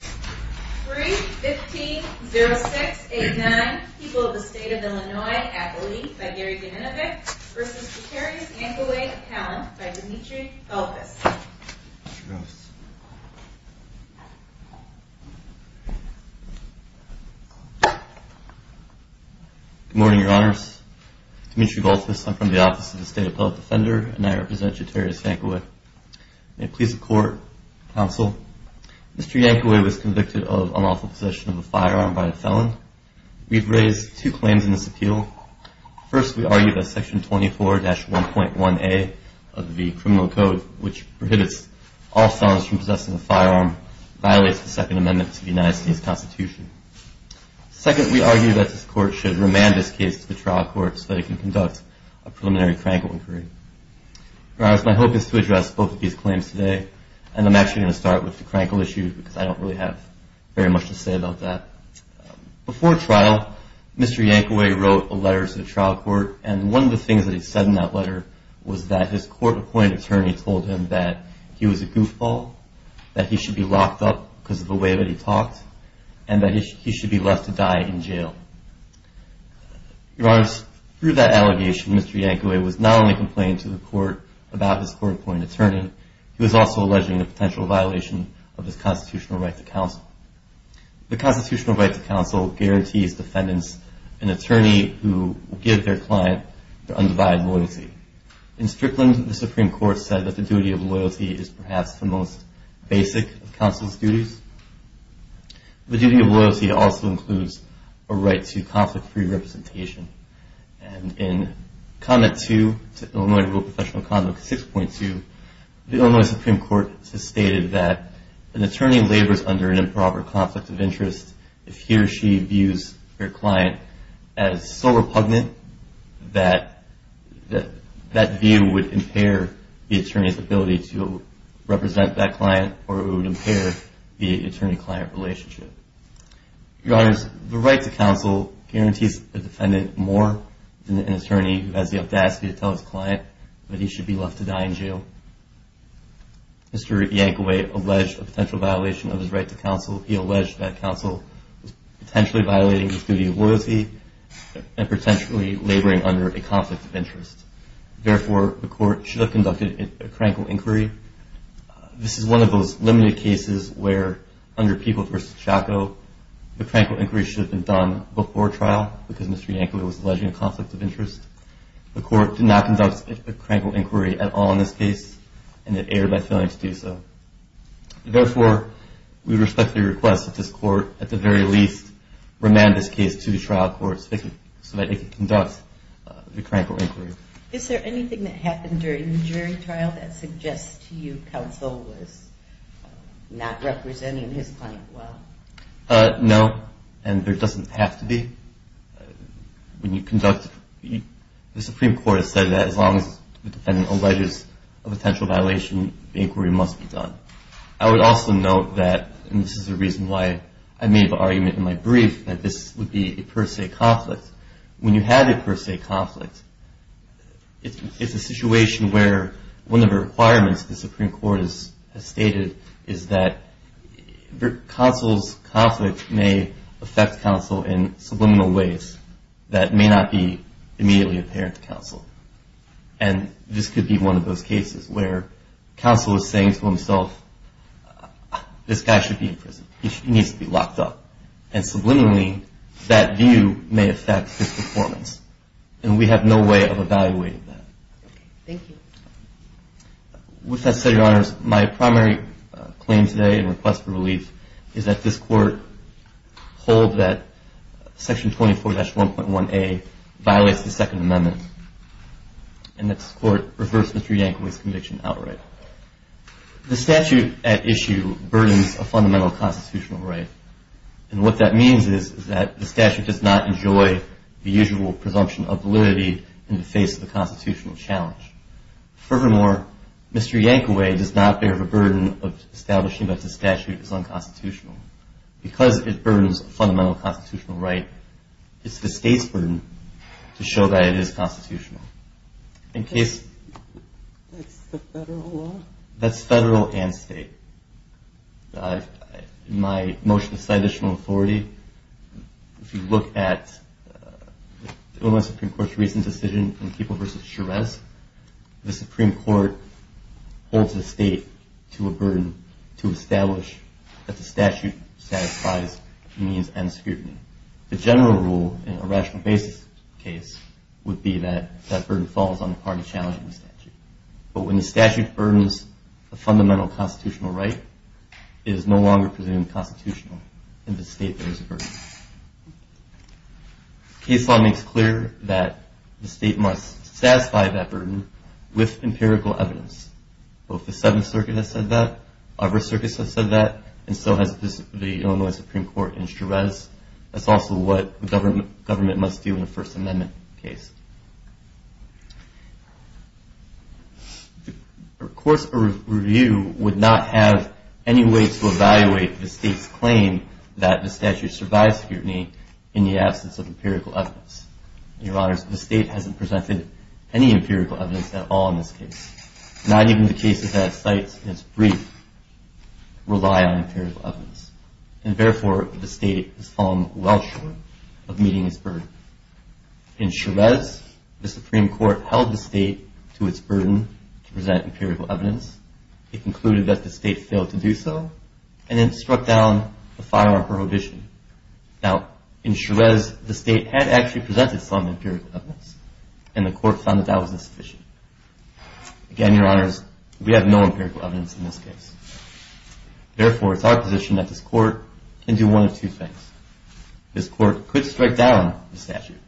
3, 15, 06, 8, 9. People of the State of Illinois, Appellee, by Gary Gannovick, v. Jotarius Yankaway, Appellant, by Dimitri Galtas. Good morning, Your Honors. Dimitri Galtas, I'm from the Office of the State Appellate Defender, and I represent Jotarius Yankaway. May it please the Court, Counsel, Mr. Yankaway was convicted of unlawful possession of a firearm by a felon. We've raised two claims in this appeal. First, we argue that Section 24-1.1a of the Criminal Code, which prohibits all felons from possessing a firearm, violates the Second Amendment to the United States Constitution. Second, we argue that this Court should remand this case to the trial court so that it can conduct a preliminary crankle inquiry. Your Honors, my hope is to address both of these claims today, and I'm actually going to start with the crankle issue because I don't really have very much to say about that. Before trial, Mr. Yankaway wrote a letter to the trial court, and one of the things that he said in that letter was that his court-appointed attorney told him that he was a goofball, that he should be locked up because of the way that he talked, and that he should be left to die in jail. Your Honors, through that allegation, Mr. Yankaway was not only complaining to the Court about his court-appointed attorney, he was also alleging a potential violation of his constitutional right to counsel. The constitutional right to counsel guarantees defendants an attorney who will give their client their undivided loyalty. In Strickland, the Supreme Court said that the duty of loyalty is perhaps the most basic of counsel's duties. The duty of loyalty also includes a right to conflict-free representation. And in Conduct 2, Illinois Professional Conduct 6.2, the Illinois Supreme Court has stated that an attorney labors under an improper conflict of interest if he or she views their client as sole repugnant, that that view would impair the attorney's ability to represent that relationship. Your Honors, the right to counsel guarantees a defendant more than an attorney who has the audacity to tell his client that he should be left to die in jail. Mr. Yankaway alleged a potential violation of his right to counsel. He alleged that counsel was potentially violating his duty of loyalty and potentially laboring under a conflict of interest. Therefore, the Court should have conducted a crankle inquiry. This is one of those limited cases where, under People v. Chacko, the crankle inquiry should have been done before trial because Mr. Yankaway was alleging a conflict of interest. The Court did not conduct a crankle inquiry at all in this case, and it erred by failing to do so. Therefore, we respectfully request that this Court, at the very least, remand this case to the trial court so that it can conduct the crankle inquiry. Is there anything that happened during the jury trial that suggests to you counsel was not representing his client well? No, and there doesn't have to be. When you conduct, the Supreme Court has said that as long as the defendant alleges a potential violation, the inquiry must be done. I would also note that, and this is the reason why I made the argument in my brief that this would be a per se conflict. When you have a per se conflict, it's a situation where one of the requirements the Supreme Court has stated is that counsel's conflict may affect counsel in subliminal ways that may not be immediately apparent to counsel. And this could be one of those cases where counsel is saying to himself, this guy should be in prison. He needs to be locked up. And subliminally, that view may affect his performance. And we have no way of evaluating that. Thank you. With that said, Your Honors, my primary claim today and request for relief is that this Court hold that Section 24-1.1a violates the Second Amendment and that this Court reverse Mr. Yankovic's conviction outright. The statute at issue burdens a fundamental constitutional right. And what that means is that the statute does not enjoy the usual presumption of validity in the face of a constitutional challenge. Furthermore, Mr. Yankovic does not bear the burden of establishing that the statute is unconstitutional. Because it burdens a fundamental constitutional right, it's the State's burden to show that it is constitutional. That's the Federal law? That's Federal and State. In my motion of statutional authority, if you look at the Illinois Supreme Court's recent decision in Keeble v. Charest, the Supreme Court holds the State to a burden to establish that the statute satisfies means and scrutiny. The general rule in a rational basis case would be that that burden falls on the party challenging the statute. But when the statute burdens a fundamental constitutional right, it is no longer presumed constitutional. In the State, there is a burden. Case law makes clear that the State must satisfy that burden with empirical evidence. Both the Seventh Circuit has said that, other circuits have said that, and so has the Illinois Supreme Court in Charest. That's also what the government must do in a First Amendment case. Of course, a review would not have any way to evaluate the State's claim that the statute survives scrutiny in the absence of empirical evidence. Your Honors, the State hasn't presented any empirical evidence at all in this case. Not even the cases that it cites in its brief rely on empirical evidence. And therefore, the State has fallen well short of meeting its burden. In Charest, the Supreme Court held the State to its burden to present empirical evidence. It concluded that the State failed to do so and then struck down the firearm prohibition. Now, in Charest, the State had actually presented some empirical evidence, and the Court found that that was insufficient. Again, Your Honors, we have no empirical evidence in this case. Therefore, it's our position that this Court can do one of two things. This Court could strike down the statute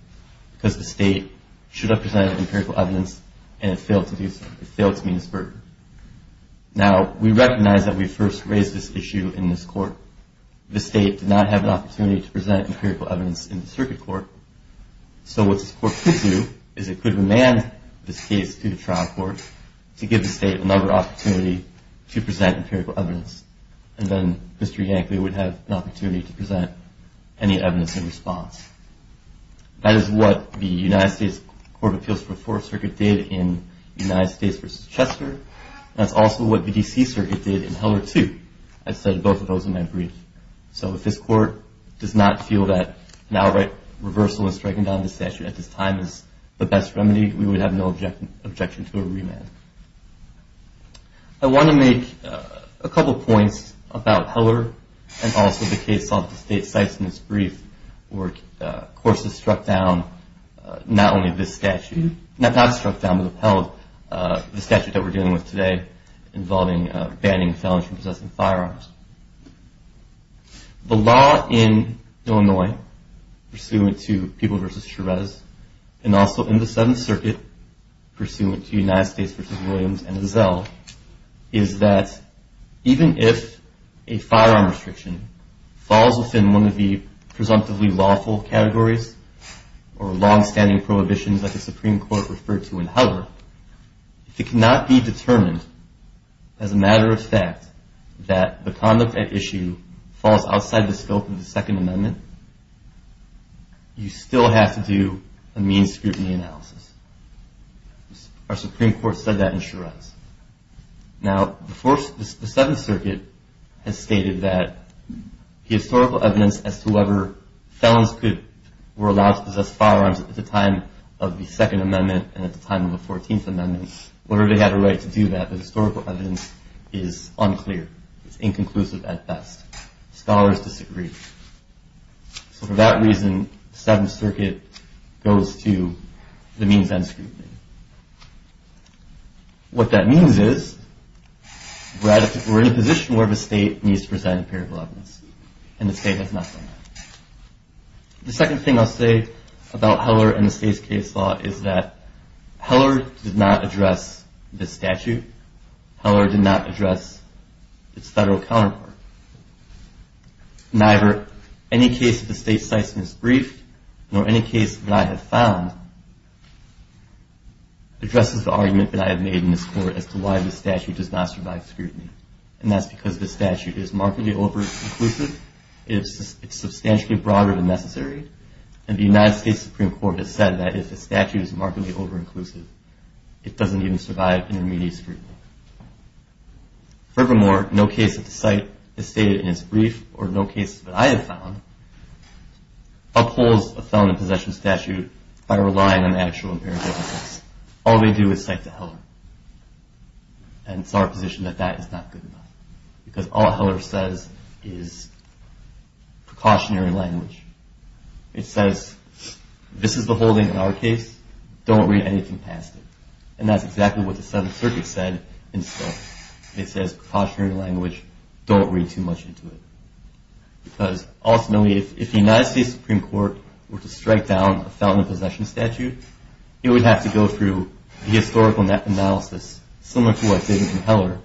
because the State should have presented empirical evidence and it failed to do so. It failed to meet its burden. Now, we recognize that we first raised this issue in this Court. Therefore, the State did not have an opportunity to present empirical evidence in the Circuit Court. So what this Court could do is it could remand this case to the Trial Court to give the State another opportunity to present empirical evidence. And then Mr. Yankley would have an opportunity to present any evidence in response. That is what the United States Court of Appeals for the Fourth Circuit did in United States v. Chester. That's also what the D.C. Circuit did in Heller 2. I said both of those in my brief. So if this Court does not feel that an outright reversal in striking down the statute at this time is the best remedy, we would have no objection to a remand. I want to make a couple points about Heller and also the case of the State's sites in this brief where courts have struck down not only this statute. Not struck down but upheld the statute that we're dealing with today involving banning felons from possessing firearms. The law in Illinois pursuant to People v. Chavez and also in the Seventh Circuit pursuant to United States v. Williams and Zell is that even if a firearm restriction falls within one of the presumptively lawful categories or long-standing prohibitions that the Supreme Court referred to in Heller, if it cannot be determined as a matter of fact that the conduct at issue falls outside the scope of the Second Amendment, you still have to do a means scrutiny analysis. Now the Seventh Circuit has stated that the historical evidence as to whether felons were allowed to possess firearms at the time of the Second Amendment and at the time of the Fourteenth Amendment, whether they had a right to do that, the historical evidence is unclear. It's inconclusive at best. Scholars disagree. So for that reason, the Seventh Circuit goes to the means end scrutiny. What that means is we're in a position where the state needs to present empirical evidence, and the state has not done that. The second thing I'll say about Heller and the state's case law is that Heller did not address this statute. Heller did not address its federal counterpart. Neither any case that the state cites in its brief, nor any case that I have found, addresses the argument that I have made in this Court as to why this statute does not survive scrutiny, and that's because this statute is markedly over-inclusive. It's substantially broader than necessary, and the United States Supreme Court has said that if the statute is markedly over-inclusive, it doesn't even survive intermediate scrutiny. Furthermore, no case that the site has stated in its brief, or no case that I have found, upholds a felon in possession statute by relying on actual empirical evidence. All they do is cite to Heller, and it's our position that that is not good enough, because all Heller says is precautionary language. It says, this is the holding in our case. Don't read anything past it. And that's exactly what the Seventh Circuit said in itself. It says precautionary language. Don't read too much into it, because ultimately if the United States Supreme Court were to strike down a felon in possession statute, it would have to go through the historical analysis, similar to what they did in Heller,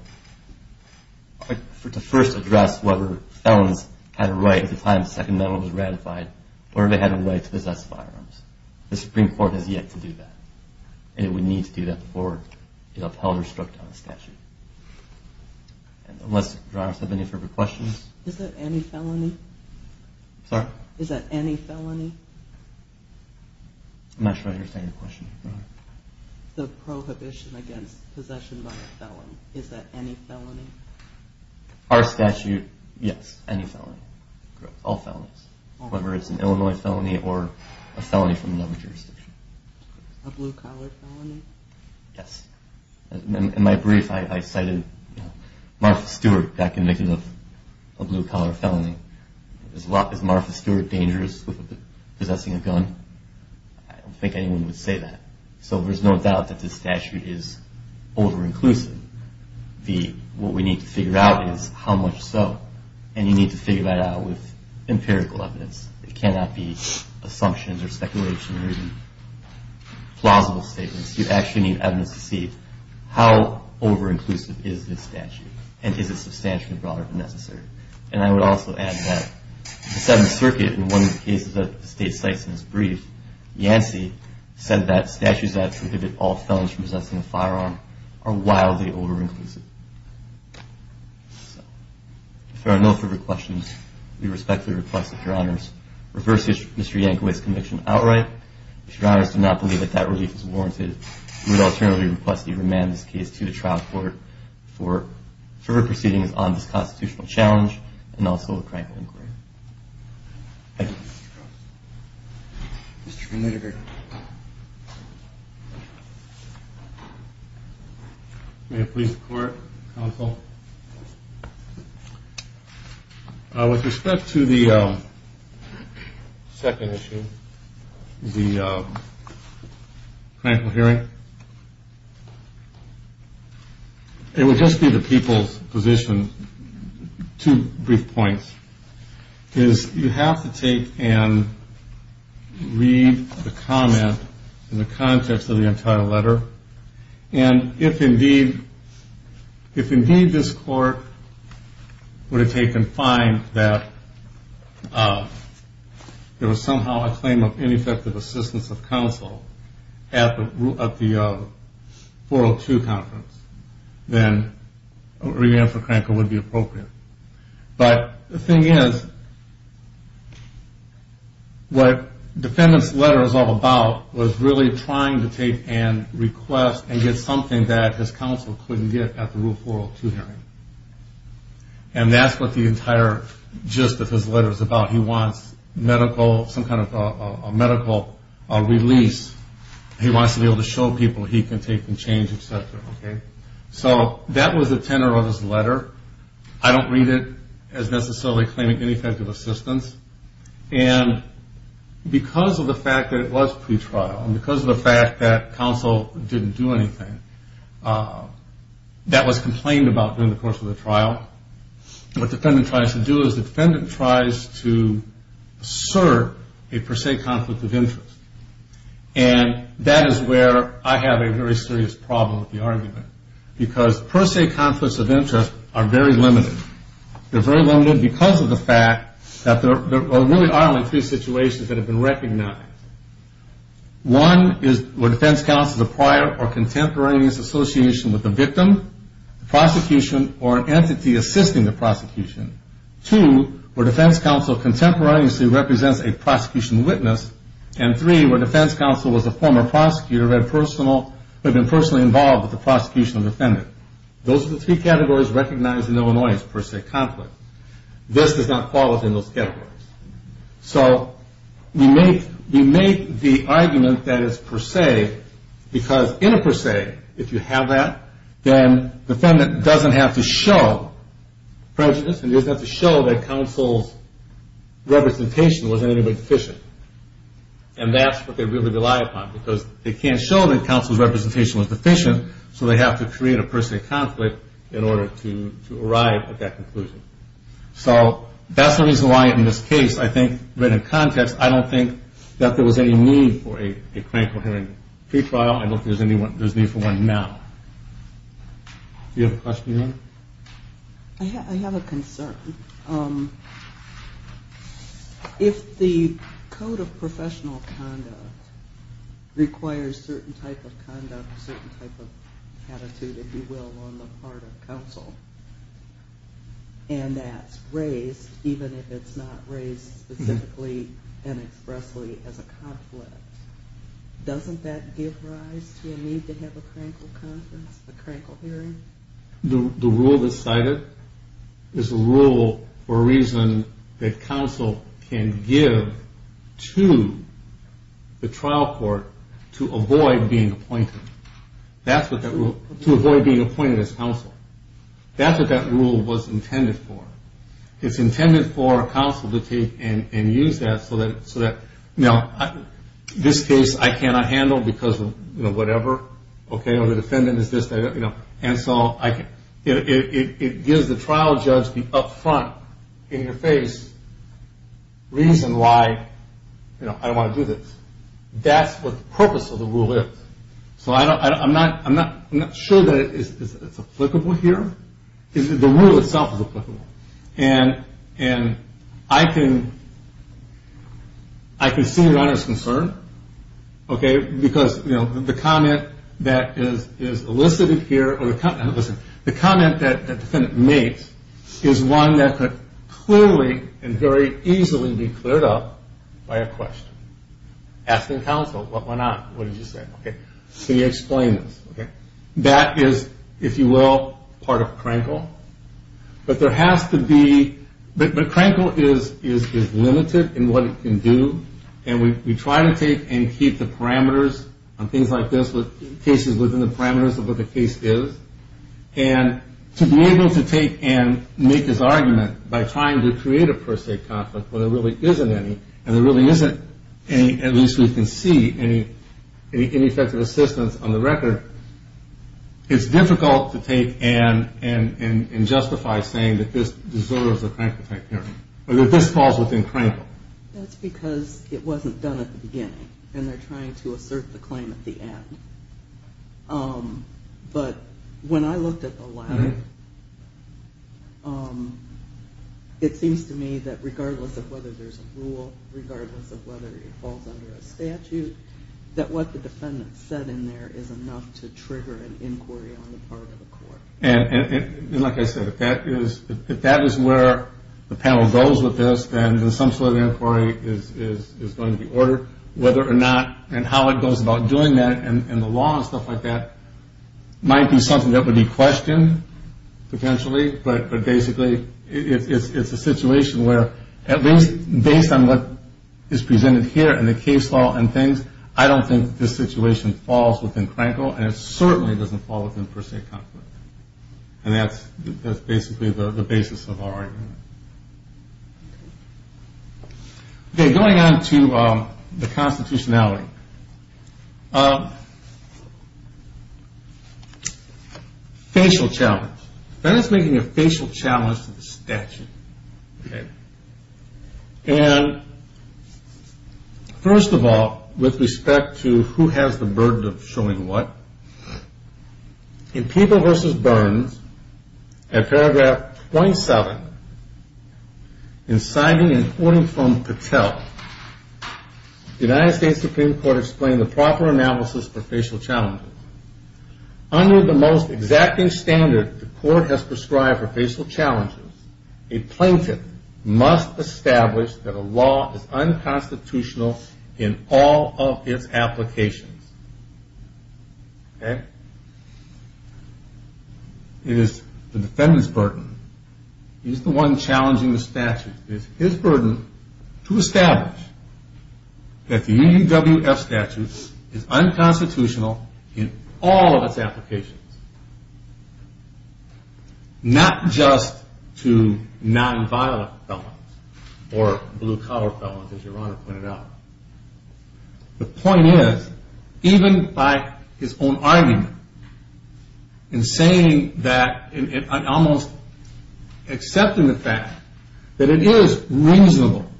to first address whether felons had a right at the time the Second Amendment was ratified, or if they had a right to possess firearms. The Supreme Court has yet to do that, and it would need to do that before it upheld or struck down a statute. Unless, do you have any further questions? Is that any felony? Sorry? Is that any felony? I'm not sure I understand your question. The prohibition against possession by a felon, is that any felony? Our statute, yes, any felony. All felonies. Whether it's an Illinois felony or a felony from another jurisdiction. A blue-collar felony? Yes. In my brief, I cited Martha Stewart, that can make it a blue-collar felony. Is Martha Stewart dangerous with possessing a gun? I don't think anyone would say that. So there's no doubt that this statute is over-inclusive. What we need to figure out is how much so, and you need to figure that out with empirical evidence. It cannot be assumptions or speculation or even plausible statements. You actually need evidence to see how over-inclusive is this statute, and is it substantially broader than necessary. And I would also add that the Seventh Circuit, in one of the cases that the state cites in its brief, Yancey said that statutes that prohibit all felons from possessing a firearm are wildly over-inclusive. If there are no further questions, we respectfully request that Your Honors reverse Mr. Yankovic's conviction outright. If Your Honors do not believe that that relief is warranted, we would alternatively request that you remand this case to the trial court for further proceedings on this constitutional challenge and also a cranking inquiry. Thank you. Mr. Van Litterburg. May it please the Court, Counsel. With respect to the second issue, the cranking hearing, it would just be the people's position, two brief points. You have to take and read the comment in the context of the entire letter, and if indeed this Court were to take and find that there was somehow a claim of ineffective assistance of counsel at the 402 conference, then a re-answer cranker would be appropriate. But the thing is, what the defendant's letter is all about was really trying to take and request and get something that his counsel couldn't get at the Rule 402 hearing. And that's what the entire gist of his letter is about. He wants some kind of a medical release. He wants to be able to show people he can take and change, et cetera. So that was the tenor of his letter. I don't read it as necessarily claiming ineffective assistance. And because of the fact that it was pretrial and because of the fact that counsel didn't do anything, that was complained about during the course of the trial. What the defendant tries to do is the defendant tries to assert a per se conflict of interest. And that is where I have a very serious problem with the argument because per se conflicts of interest are very limited. They're very limited because of the fact that there really are only three situations that have been recognized. One is where defense counsel has a prior or contemporaneous association with the victim, the prosecution, or an entity assisting the prosecution. Two, where defense counsel contemporaneously represents a prosecution witness. And three, where defense counsel was a former prosecutor who had been personally involved with the prosecution of the defendant. Those are the three categories recognized in Illinois as per se conflict. This does not fall within those categories. So we make the argument that it's per se because in a per se, if you have that, then the defendant doesn't have to show prejudice and doesn't have to show that counsel's representation wasn't any way deficient. And that's what they really rely upon. Because they can't show that counsel's representation was deficient, so they have to create a per se conflict in order to arrive at that conclusion. So that's the reason why in this case, I think, written in context, I don't think that there was any need for a cranial coherent pretrial. I don't think there's need for one now. Do you have a question, Your Honor? I have a concern. If the code of professional conduct requires certain type of conduct, certain type of attitude, if you will, on the part of counsel, and that's raised even if it's not raised specifically and expressly as a conflict, doesn't that give rise to a need to have a cranial conference, a cranial hearing? The rule that's cited is a rule for a reason that counsel can give to the trial court to avoid being appointed as counsel. That's what that rule was intended for. It's intended for counsel to take and use that so that, you know, this case I cannot handle because of, you know, whatever, okay, you know, the defendant is this, you know, and so I can't. It gives the trial judge the upfront, in your face, reason why, you know, I don't want to do this. That's what the purpose of the rule is. So I'm not sure that it's applicable here. The rule itself is applicable. And I can see Your Honor's concern, okay, because, you know, the comment that is elicited here, or the comment that the defendant makes is one that could clearly and very easily be cleared up by a question. Asking counsel, what went on? What did you say? Okay, so you explain this, okay? That is, if you will, part of CRANCL. But there has to be, but CRANCL is limited in what it can do, and we try to take and keep the parameters on things like this, cases within the parameters of what the case is, and to be able to take and make this argument by trying to create a per se conflict where there really isn't any, and there really isn't any, at least we can see, any effective assistance on the record, it's difficult to take and justify saying that this deserves a CRANCL hearing or that this falls within CRANCL. That's because it wasn't done at the beginning, and they're trying to assert the claim at the end. But when I looked at the latter, it seems to me that regardless of whether there's a rule, regardless of whether it falls under a statute, that what the defendant said in there is enough to trigger an inquiry on the part of the court. And like I said, if that is where the panel goes with this, then some sort of inquiry is going to be ordered. Whether or not, and how it goes about doing that, and the law and stuff like that, might be something that would be questioned potentially, but basically it's a situation where at least based on what is presented here and the case law and things, I don't think this situation falls within CRANCL, and it certainly doesn't fall within per se conflict. And that's basically the basis of our argument. Okay, going on to the constitutionality. Facial challenge. That is making a facial challenge to the statute. And first of all, with respect to who has the burden of showing what, in People v. Burns at paragraph 27, in signing and quoting from Patel, the United States Supreme Court explained the proper analysis for facial challenges. Under the most exacting standard the court has prescribed for facial challenges, a plaintiff must establish that a law is unconstitutional in all of its applications. Okay? It is the defendant's burden. He's the one challenging the statute. It is his burden to establish that the UUWF statute is unconstitutional in all of its applications. Not just to nonviolent felons, or blue collar felons as your Honor pointed out. The point is, even by his own argument, in saying that, in almost accepting the fact, that it is reasonable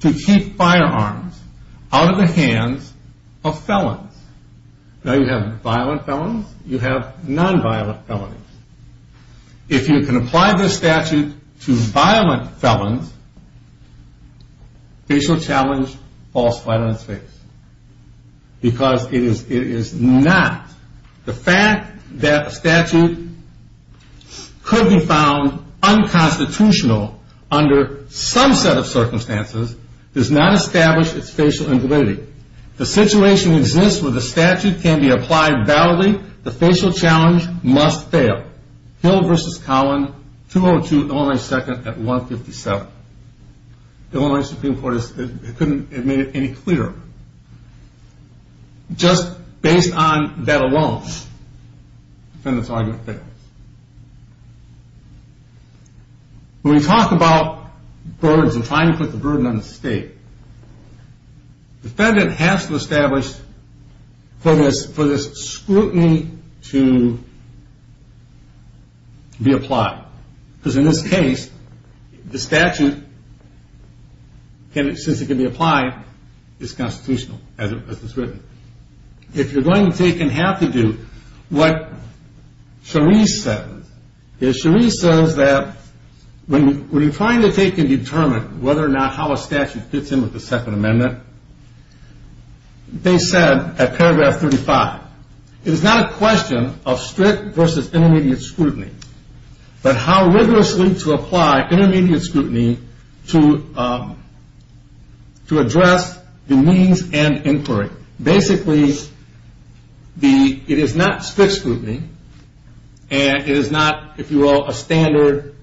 to keep firearms out of the hands of felons. Now you have violent felons, you have nonviolent felons. If you can apply this statute to violent felons, facial challenge falls flat on its face. Because it is not. The fact that a statute could be found unconstitutional under some set of circumstances does not establish its facial invalidity. The situation exists where the statute can be applied validly. The facial challenge must fail. Hill v. Cowan, 202 Illinois 2nd at 157. The Illinois Supreme Court couldn't make it any clearer. Just based on that alone, the defendant's argument fails. When we talk about burdens and trying to put the burden on the state, the defendant has to establish for this scrutiny to be applied. Because in this case, the statute, since it can be applied, is constitutional, as it's written. If you're going to take and have to do what Charisse says, is Charisse says that when you're trying to take and determine whether or not how a statute fits in with the Second Amendment, they said at paragraph 35, it is not a question of strict versus intermediate scrutiny, but how rigorously to apply intermediate scrutiny to address the means and inquiry. Basically, it is not strict scrutiny, and it is not, if you will, a standard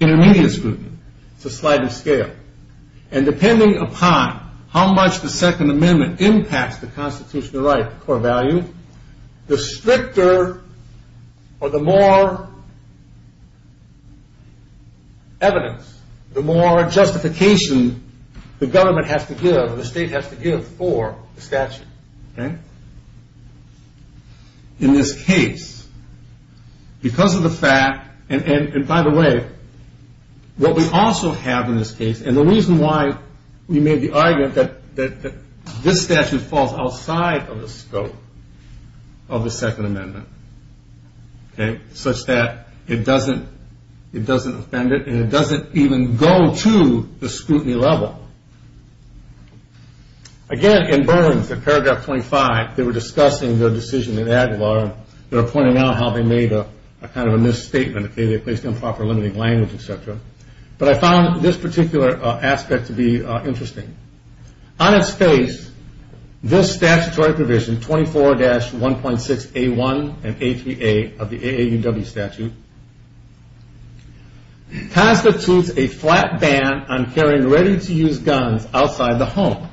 intermediate scrutiny. It's a sliding scale. And depending upon how much the Second Amendment impacts the constitutional right or value, the stricter or the more evidence, the more justification the government has to give or the state has to give for the statute. In this case, because of the fact, and by the way, what we also have in this case, and the reason why we made the argument that this statute falls outside of the scope of the Second Amendment, such that it doesn't offend it and it doesn't even go to the scrutiny level. Again, in Burns, in paragraph 25, they were discussing their decision in Aguilar, they were pointing out how they made a kind of a misstatement, they placed improper limiting language, etc. But I found this particular aspect to be interesting. On its face, this statutory provision, 24-1.6A1 and A3A of the AAUW statute, constitutes a flat ban on carrying ready-to-use guns outside the home.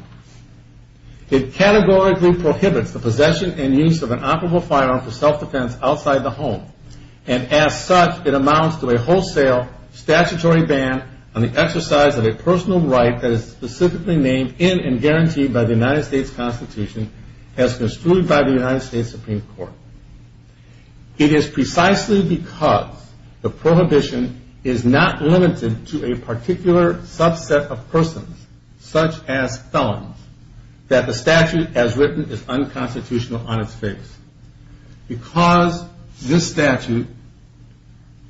It categorically prohibits the possession and use of an operable firearm for self-defense outside the home, and as such, it amounts to a wholesale statutory ban on the exercise of a personal right that is specifically named in and guaranteed by the United States Constitution as construed by the United States Supreme Court. It is precisely because the prohibition is not limited to a particular subset of persons, such as felons, that the statute as written is unconstitutional on its face. Because this statute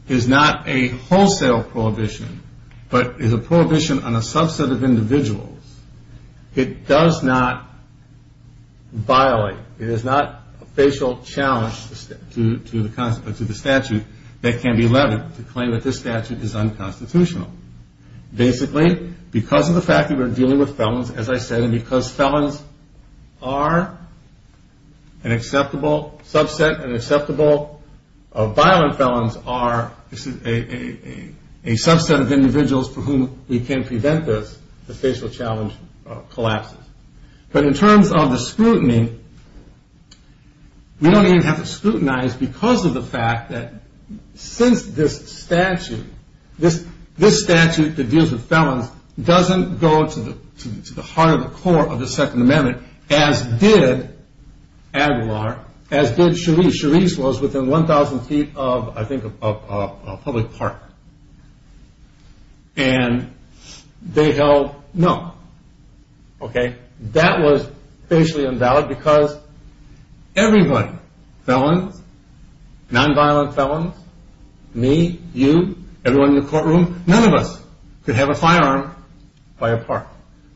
is not a wholesale prohibition, but is a prohibition on a subset of individuals, it does not violate, it is not a facial challenge to the statute that can be levied to claim that this statute is unconstitutional. Basically, because of the fact that we're dealing with felons, as I said, and because felons are an acceptable subset, and acceptable violent felons are a subset of individuals for whom we can prevent this, the facial challenge collapses. But in terms of the scrutiny, we don't even have to scrutinize because of the fact that since this statute, this statute that deals with felons, doesn't go to the heart of the core of the Second Amendment, as did Aguilar, as did Cherise. Cherise was within 1,000 feet of, I think, a public park. And they held no. That was facially invalid because everybody, felons, nonviolent felons, me, you, everyone in the courtroom, none of us could have a firearm by a park.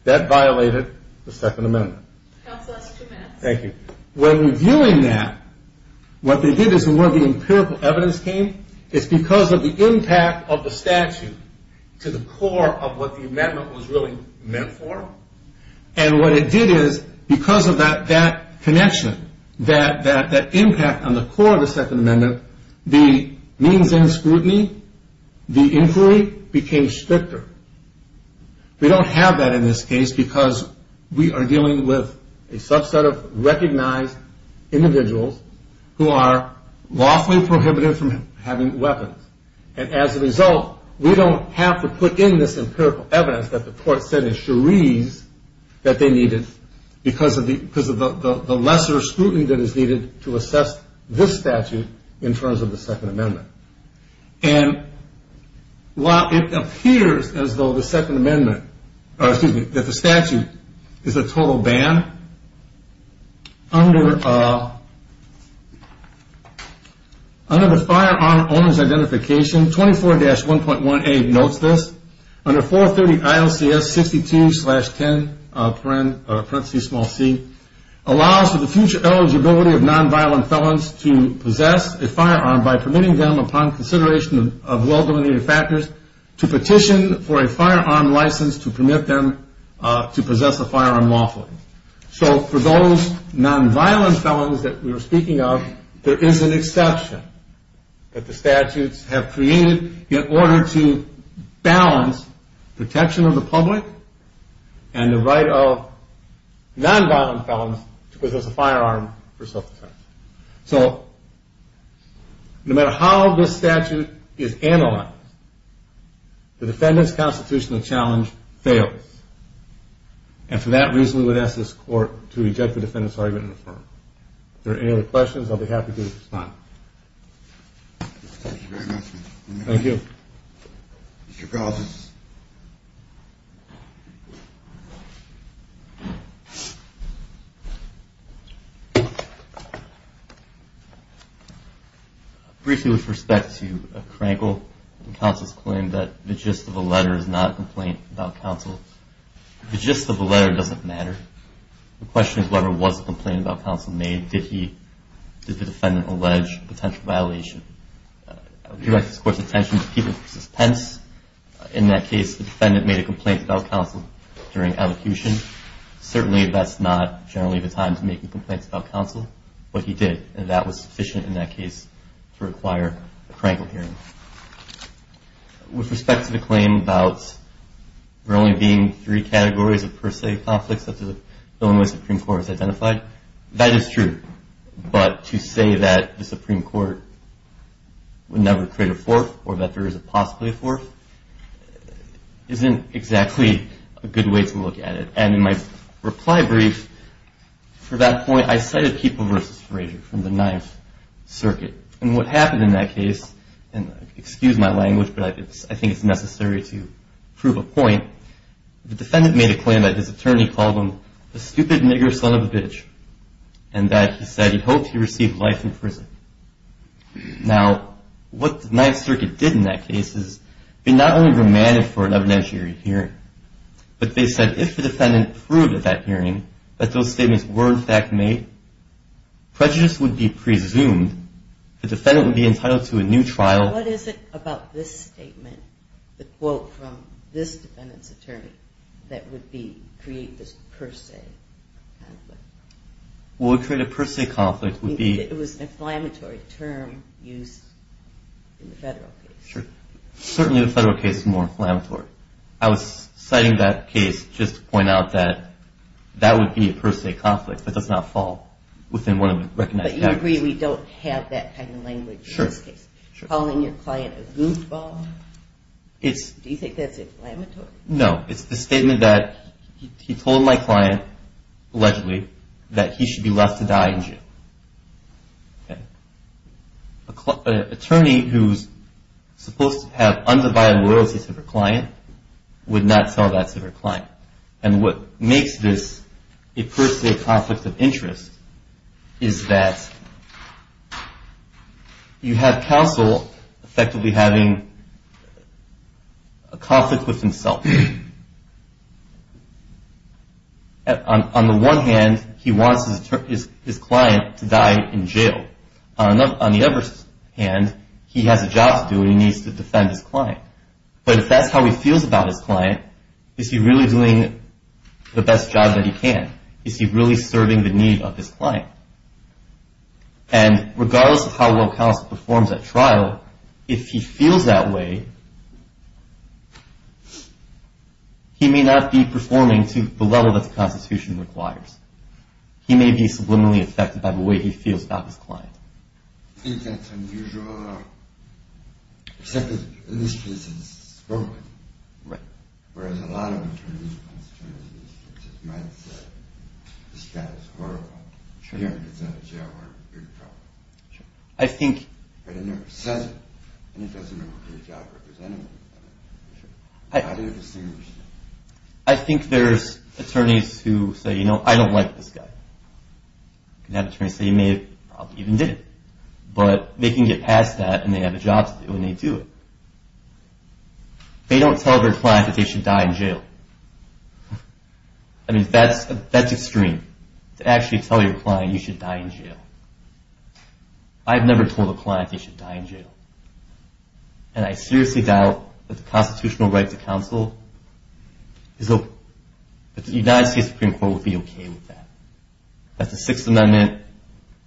That violated the Second Amendment. Counsel, that's two minutes. Thank you. When reviewing that, what they did is where the empirical evidence came, it's because of the impact of the statute to the core of what the amendment was really meant for. And what it did is because of that connection, that impact on the core of the Second Amendment, the means in scrutiny, the inquiry became stricter. We don't have that in this case because we are dealing with a subset of recognized individuals who are lawfully prohibited from having weapons. And as a result, we don't have to put in this empirical evidence that the court said in Cherise that they needed because of the lesser scrutiny that is needed to assess this statute in terms of the Second Amendment. And while it appears as though the Statute is a total ban, under the firearm owner's identification, 24-1.1A notes this, under 430 ILCS 62-10 small c, allows for the future eligibility of nonviolent felons to possess a firearm by permitting them upon consideration of well-dominated factors to petition for a firearm license to permit them to possess a firearm lawfully. So for those nonviolent felons that we were speaking of, there is an exception that the statutes have created in order to balance protection of the public and the right of nonviolent felons to possess a firearm for self-defense. So no matter how this statute is analyzed, the defendant's constitutional challenge fails. And for that reason, we would ask this court to reject the defendant's argument and affirm. If there are any other questions, I'll be happy to respond. Thank you very much. Thank you. Mr. Carlson. Briefly with respect to Krankel and counsel's claim that the gist of the letter is not a complaint about counsel. The gist of the letter doesn't matter. The question is whether it was a complaint about counsel made. Did the defendant allege potential violation? We would like this court's attention to Peter v. Pence. In that case, the defendant made a complaint about counsel during evocation. Certainly that's not generally the time to make a complaint about counsel, but he did. And that was sufficient in that case to require a Krankel hearing. With respect to the claim about there only being three categories of per se conflicts such as the one the Supreme Court has identified, that is true. But to say that the Supreme Court would never create a fourth or that there is a possibility of fourth isn't exactly a good way to look at it. And in my reply brief for that point, I cited People v. Frazier from the Ninth Circuit. And what happened in that case, and excuse my language, but I think it's necessary to prove a point, the defendant made a claim that his attorney called him a stupid nigger son of a bitch and that he said he hoped he received life in prison. Now, what the Ninth Circuit did in that case is be not only remanded for an evidentiary hearing, but they said if the defendant proved at that hearing that those statements were in fact made, prejudice would be presumed, the defendant would be entitled to a new trial. Now, what is it about this statement, the quote from this defendant's attorney, that would create this per se conflict? Well, it would create a per se conflict. It was an inflammatory term used in the federal case. Certainly the federal case is more inflammatory. I was citing that case just to point out that that would be a per se conflict that does not fall within one of the recognized categories. Do you agree we don't have that kind of language in this case? Sure. Calling your client a goofball? Do you think that's inflammatory? No. It's the statement that he told my client, allegedly, that he should be left to die in jail. An attorney who's supposed to have undivided loyalty to her client would not sell that to her client. And what makes this a per se conflict of interest is that you have counsel effectively having a conflict with himself. On the one hand, he wants his client to die in jail. On the other hand, he has a job to do and he needs to defend his client. But if that's how he feels about his client, is he really doing the best job that he can? Is he really serving the need of his client? And regardless of how well counsel performs at trial, if he feels that way, he may not be performing to the level that the Constitution requires. He may be subliminally affected by the way he feels about his client. Do you think that's unusual? Except that in this case it's broken. Right. Whereas a lot of attorneys and constituencies might say, this guy is horrible. Sure. He represents a jail-warrant. You're in trouble. Sure. But it never says it. And it doesn't know who his job representative is. How do you distinguish that? I think there's attorneys who say, you know, I don't like this guy. You can have attorneys say, you may have even did it. But they can get past that and they have a job to do and they do it. They don't tell their client that they should die in jail. I mean, that's extreme, to actually tell your client you should die in jail. I've never told a client they should die in jail. And I seriously doubt that the constitutional right to counsel is open. That the Sixth Amendment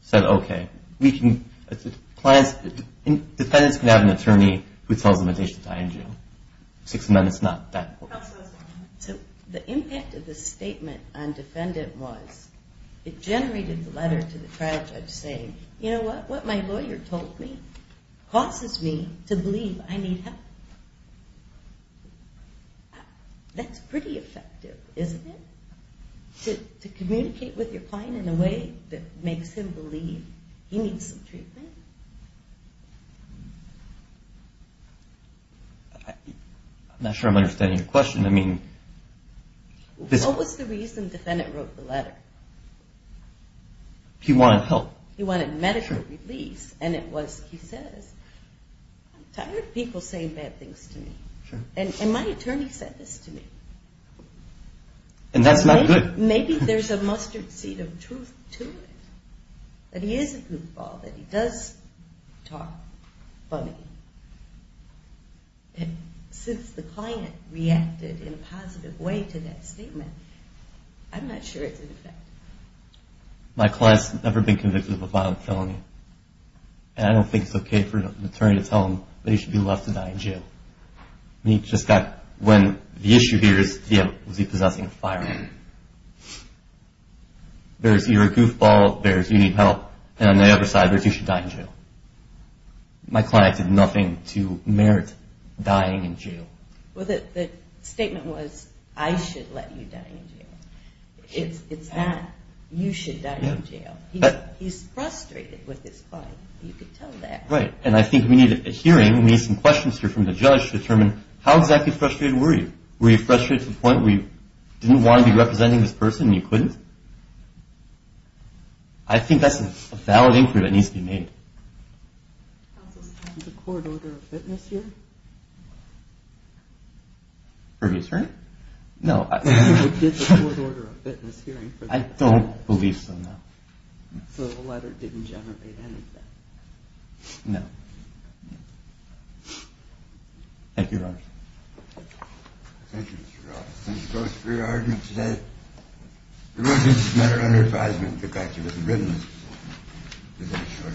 said, okay, defendants can have an attorney who tells them they should die in jail. The Sixth Amendment is not that important. So the impact of the statement on defendant was it generated the letter to the trial judge saying, you know what, what my lawyer told me causes me to believe I need help. That's pretty effective, isn't it? To communicate with your client in a way that makes him believe he needs some treatment. I'm not sure I'm understanding your question. What was the reason defendant wrote the letter? He wanted help. He wanted medical release. And it was, he says, I'm tired of people saying bad things to me. And my attorney said this to me. And that's not good. Maybe there's a mustard seed of truth to it. That he is a goofball, that he does talk funny. And since the client reacted in a positive way to that statement, I'm not sure it's an effect. My client's never been convicted of a violent felony. And I don't think it's okay for an attorney to tell him that he should be let to die in jail. He just got, when the issue here is was he possessing a firearm. There's you're a goofball, there's you need help. And on the other side, there's you should die in jail. My client did nothing to merit dying in jail. Well, the statement was I should let you die in jail. It's not you should die in jail. He's frustrated with his client. You can tell that. Right. And I think we need a hearing. We need some questions here from the judge to determine how exactly frustrated were you. Were you frustrated to the point where you didn't want to be representing this person and you couldn't? I think that's a valid inquiry that needs to be made. Counsel, is there a court order of witness here? Previous hearing? No, I don't believe so. So the letter didn't generate anything. No. Thank you. Thank you, Mr. Roberts. Thank you both for your arguments today. The witness is not under advisement to back you with a witness. Is that a sure?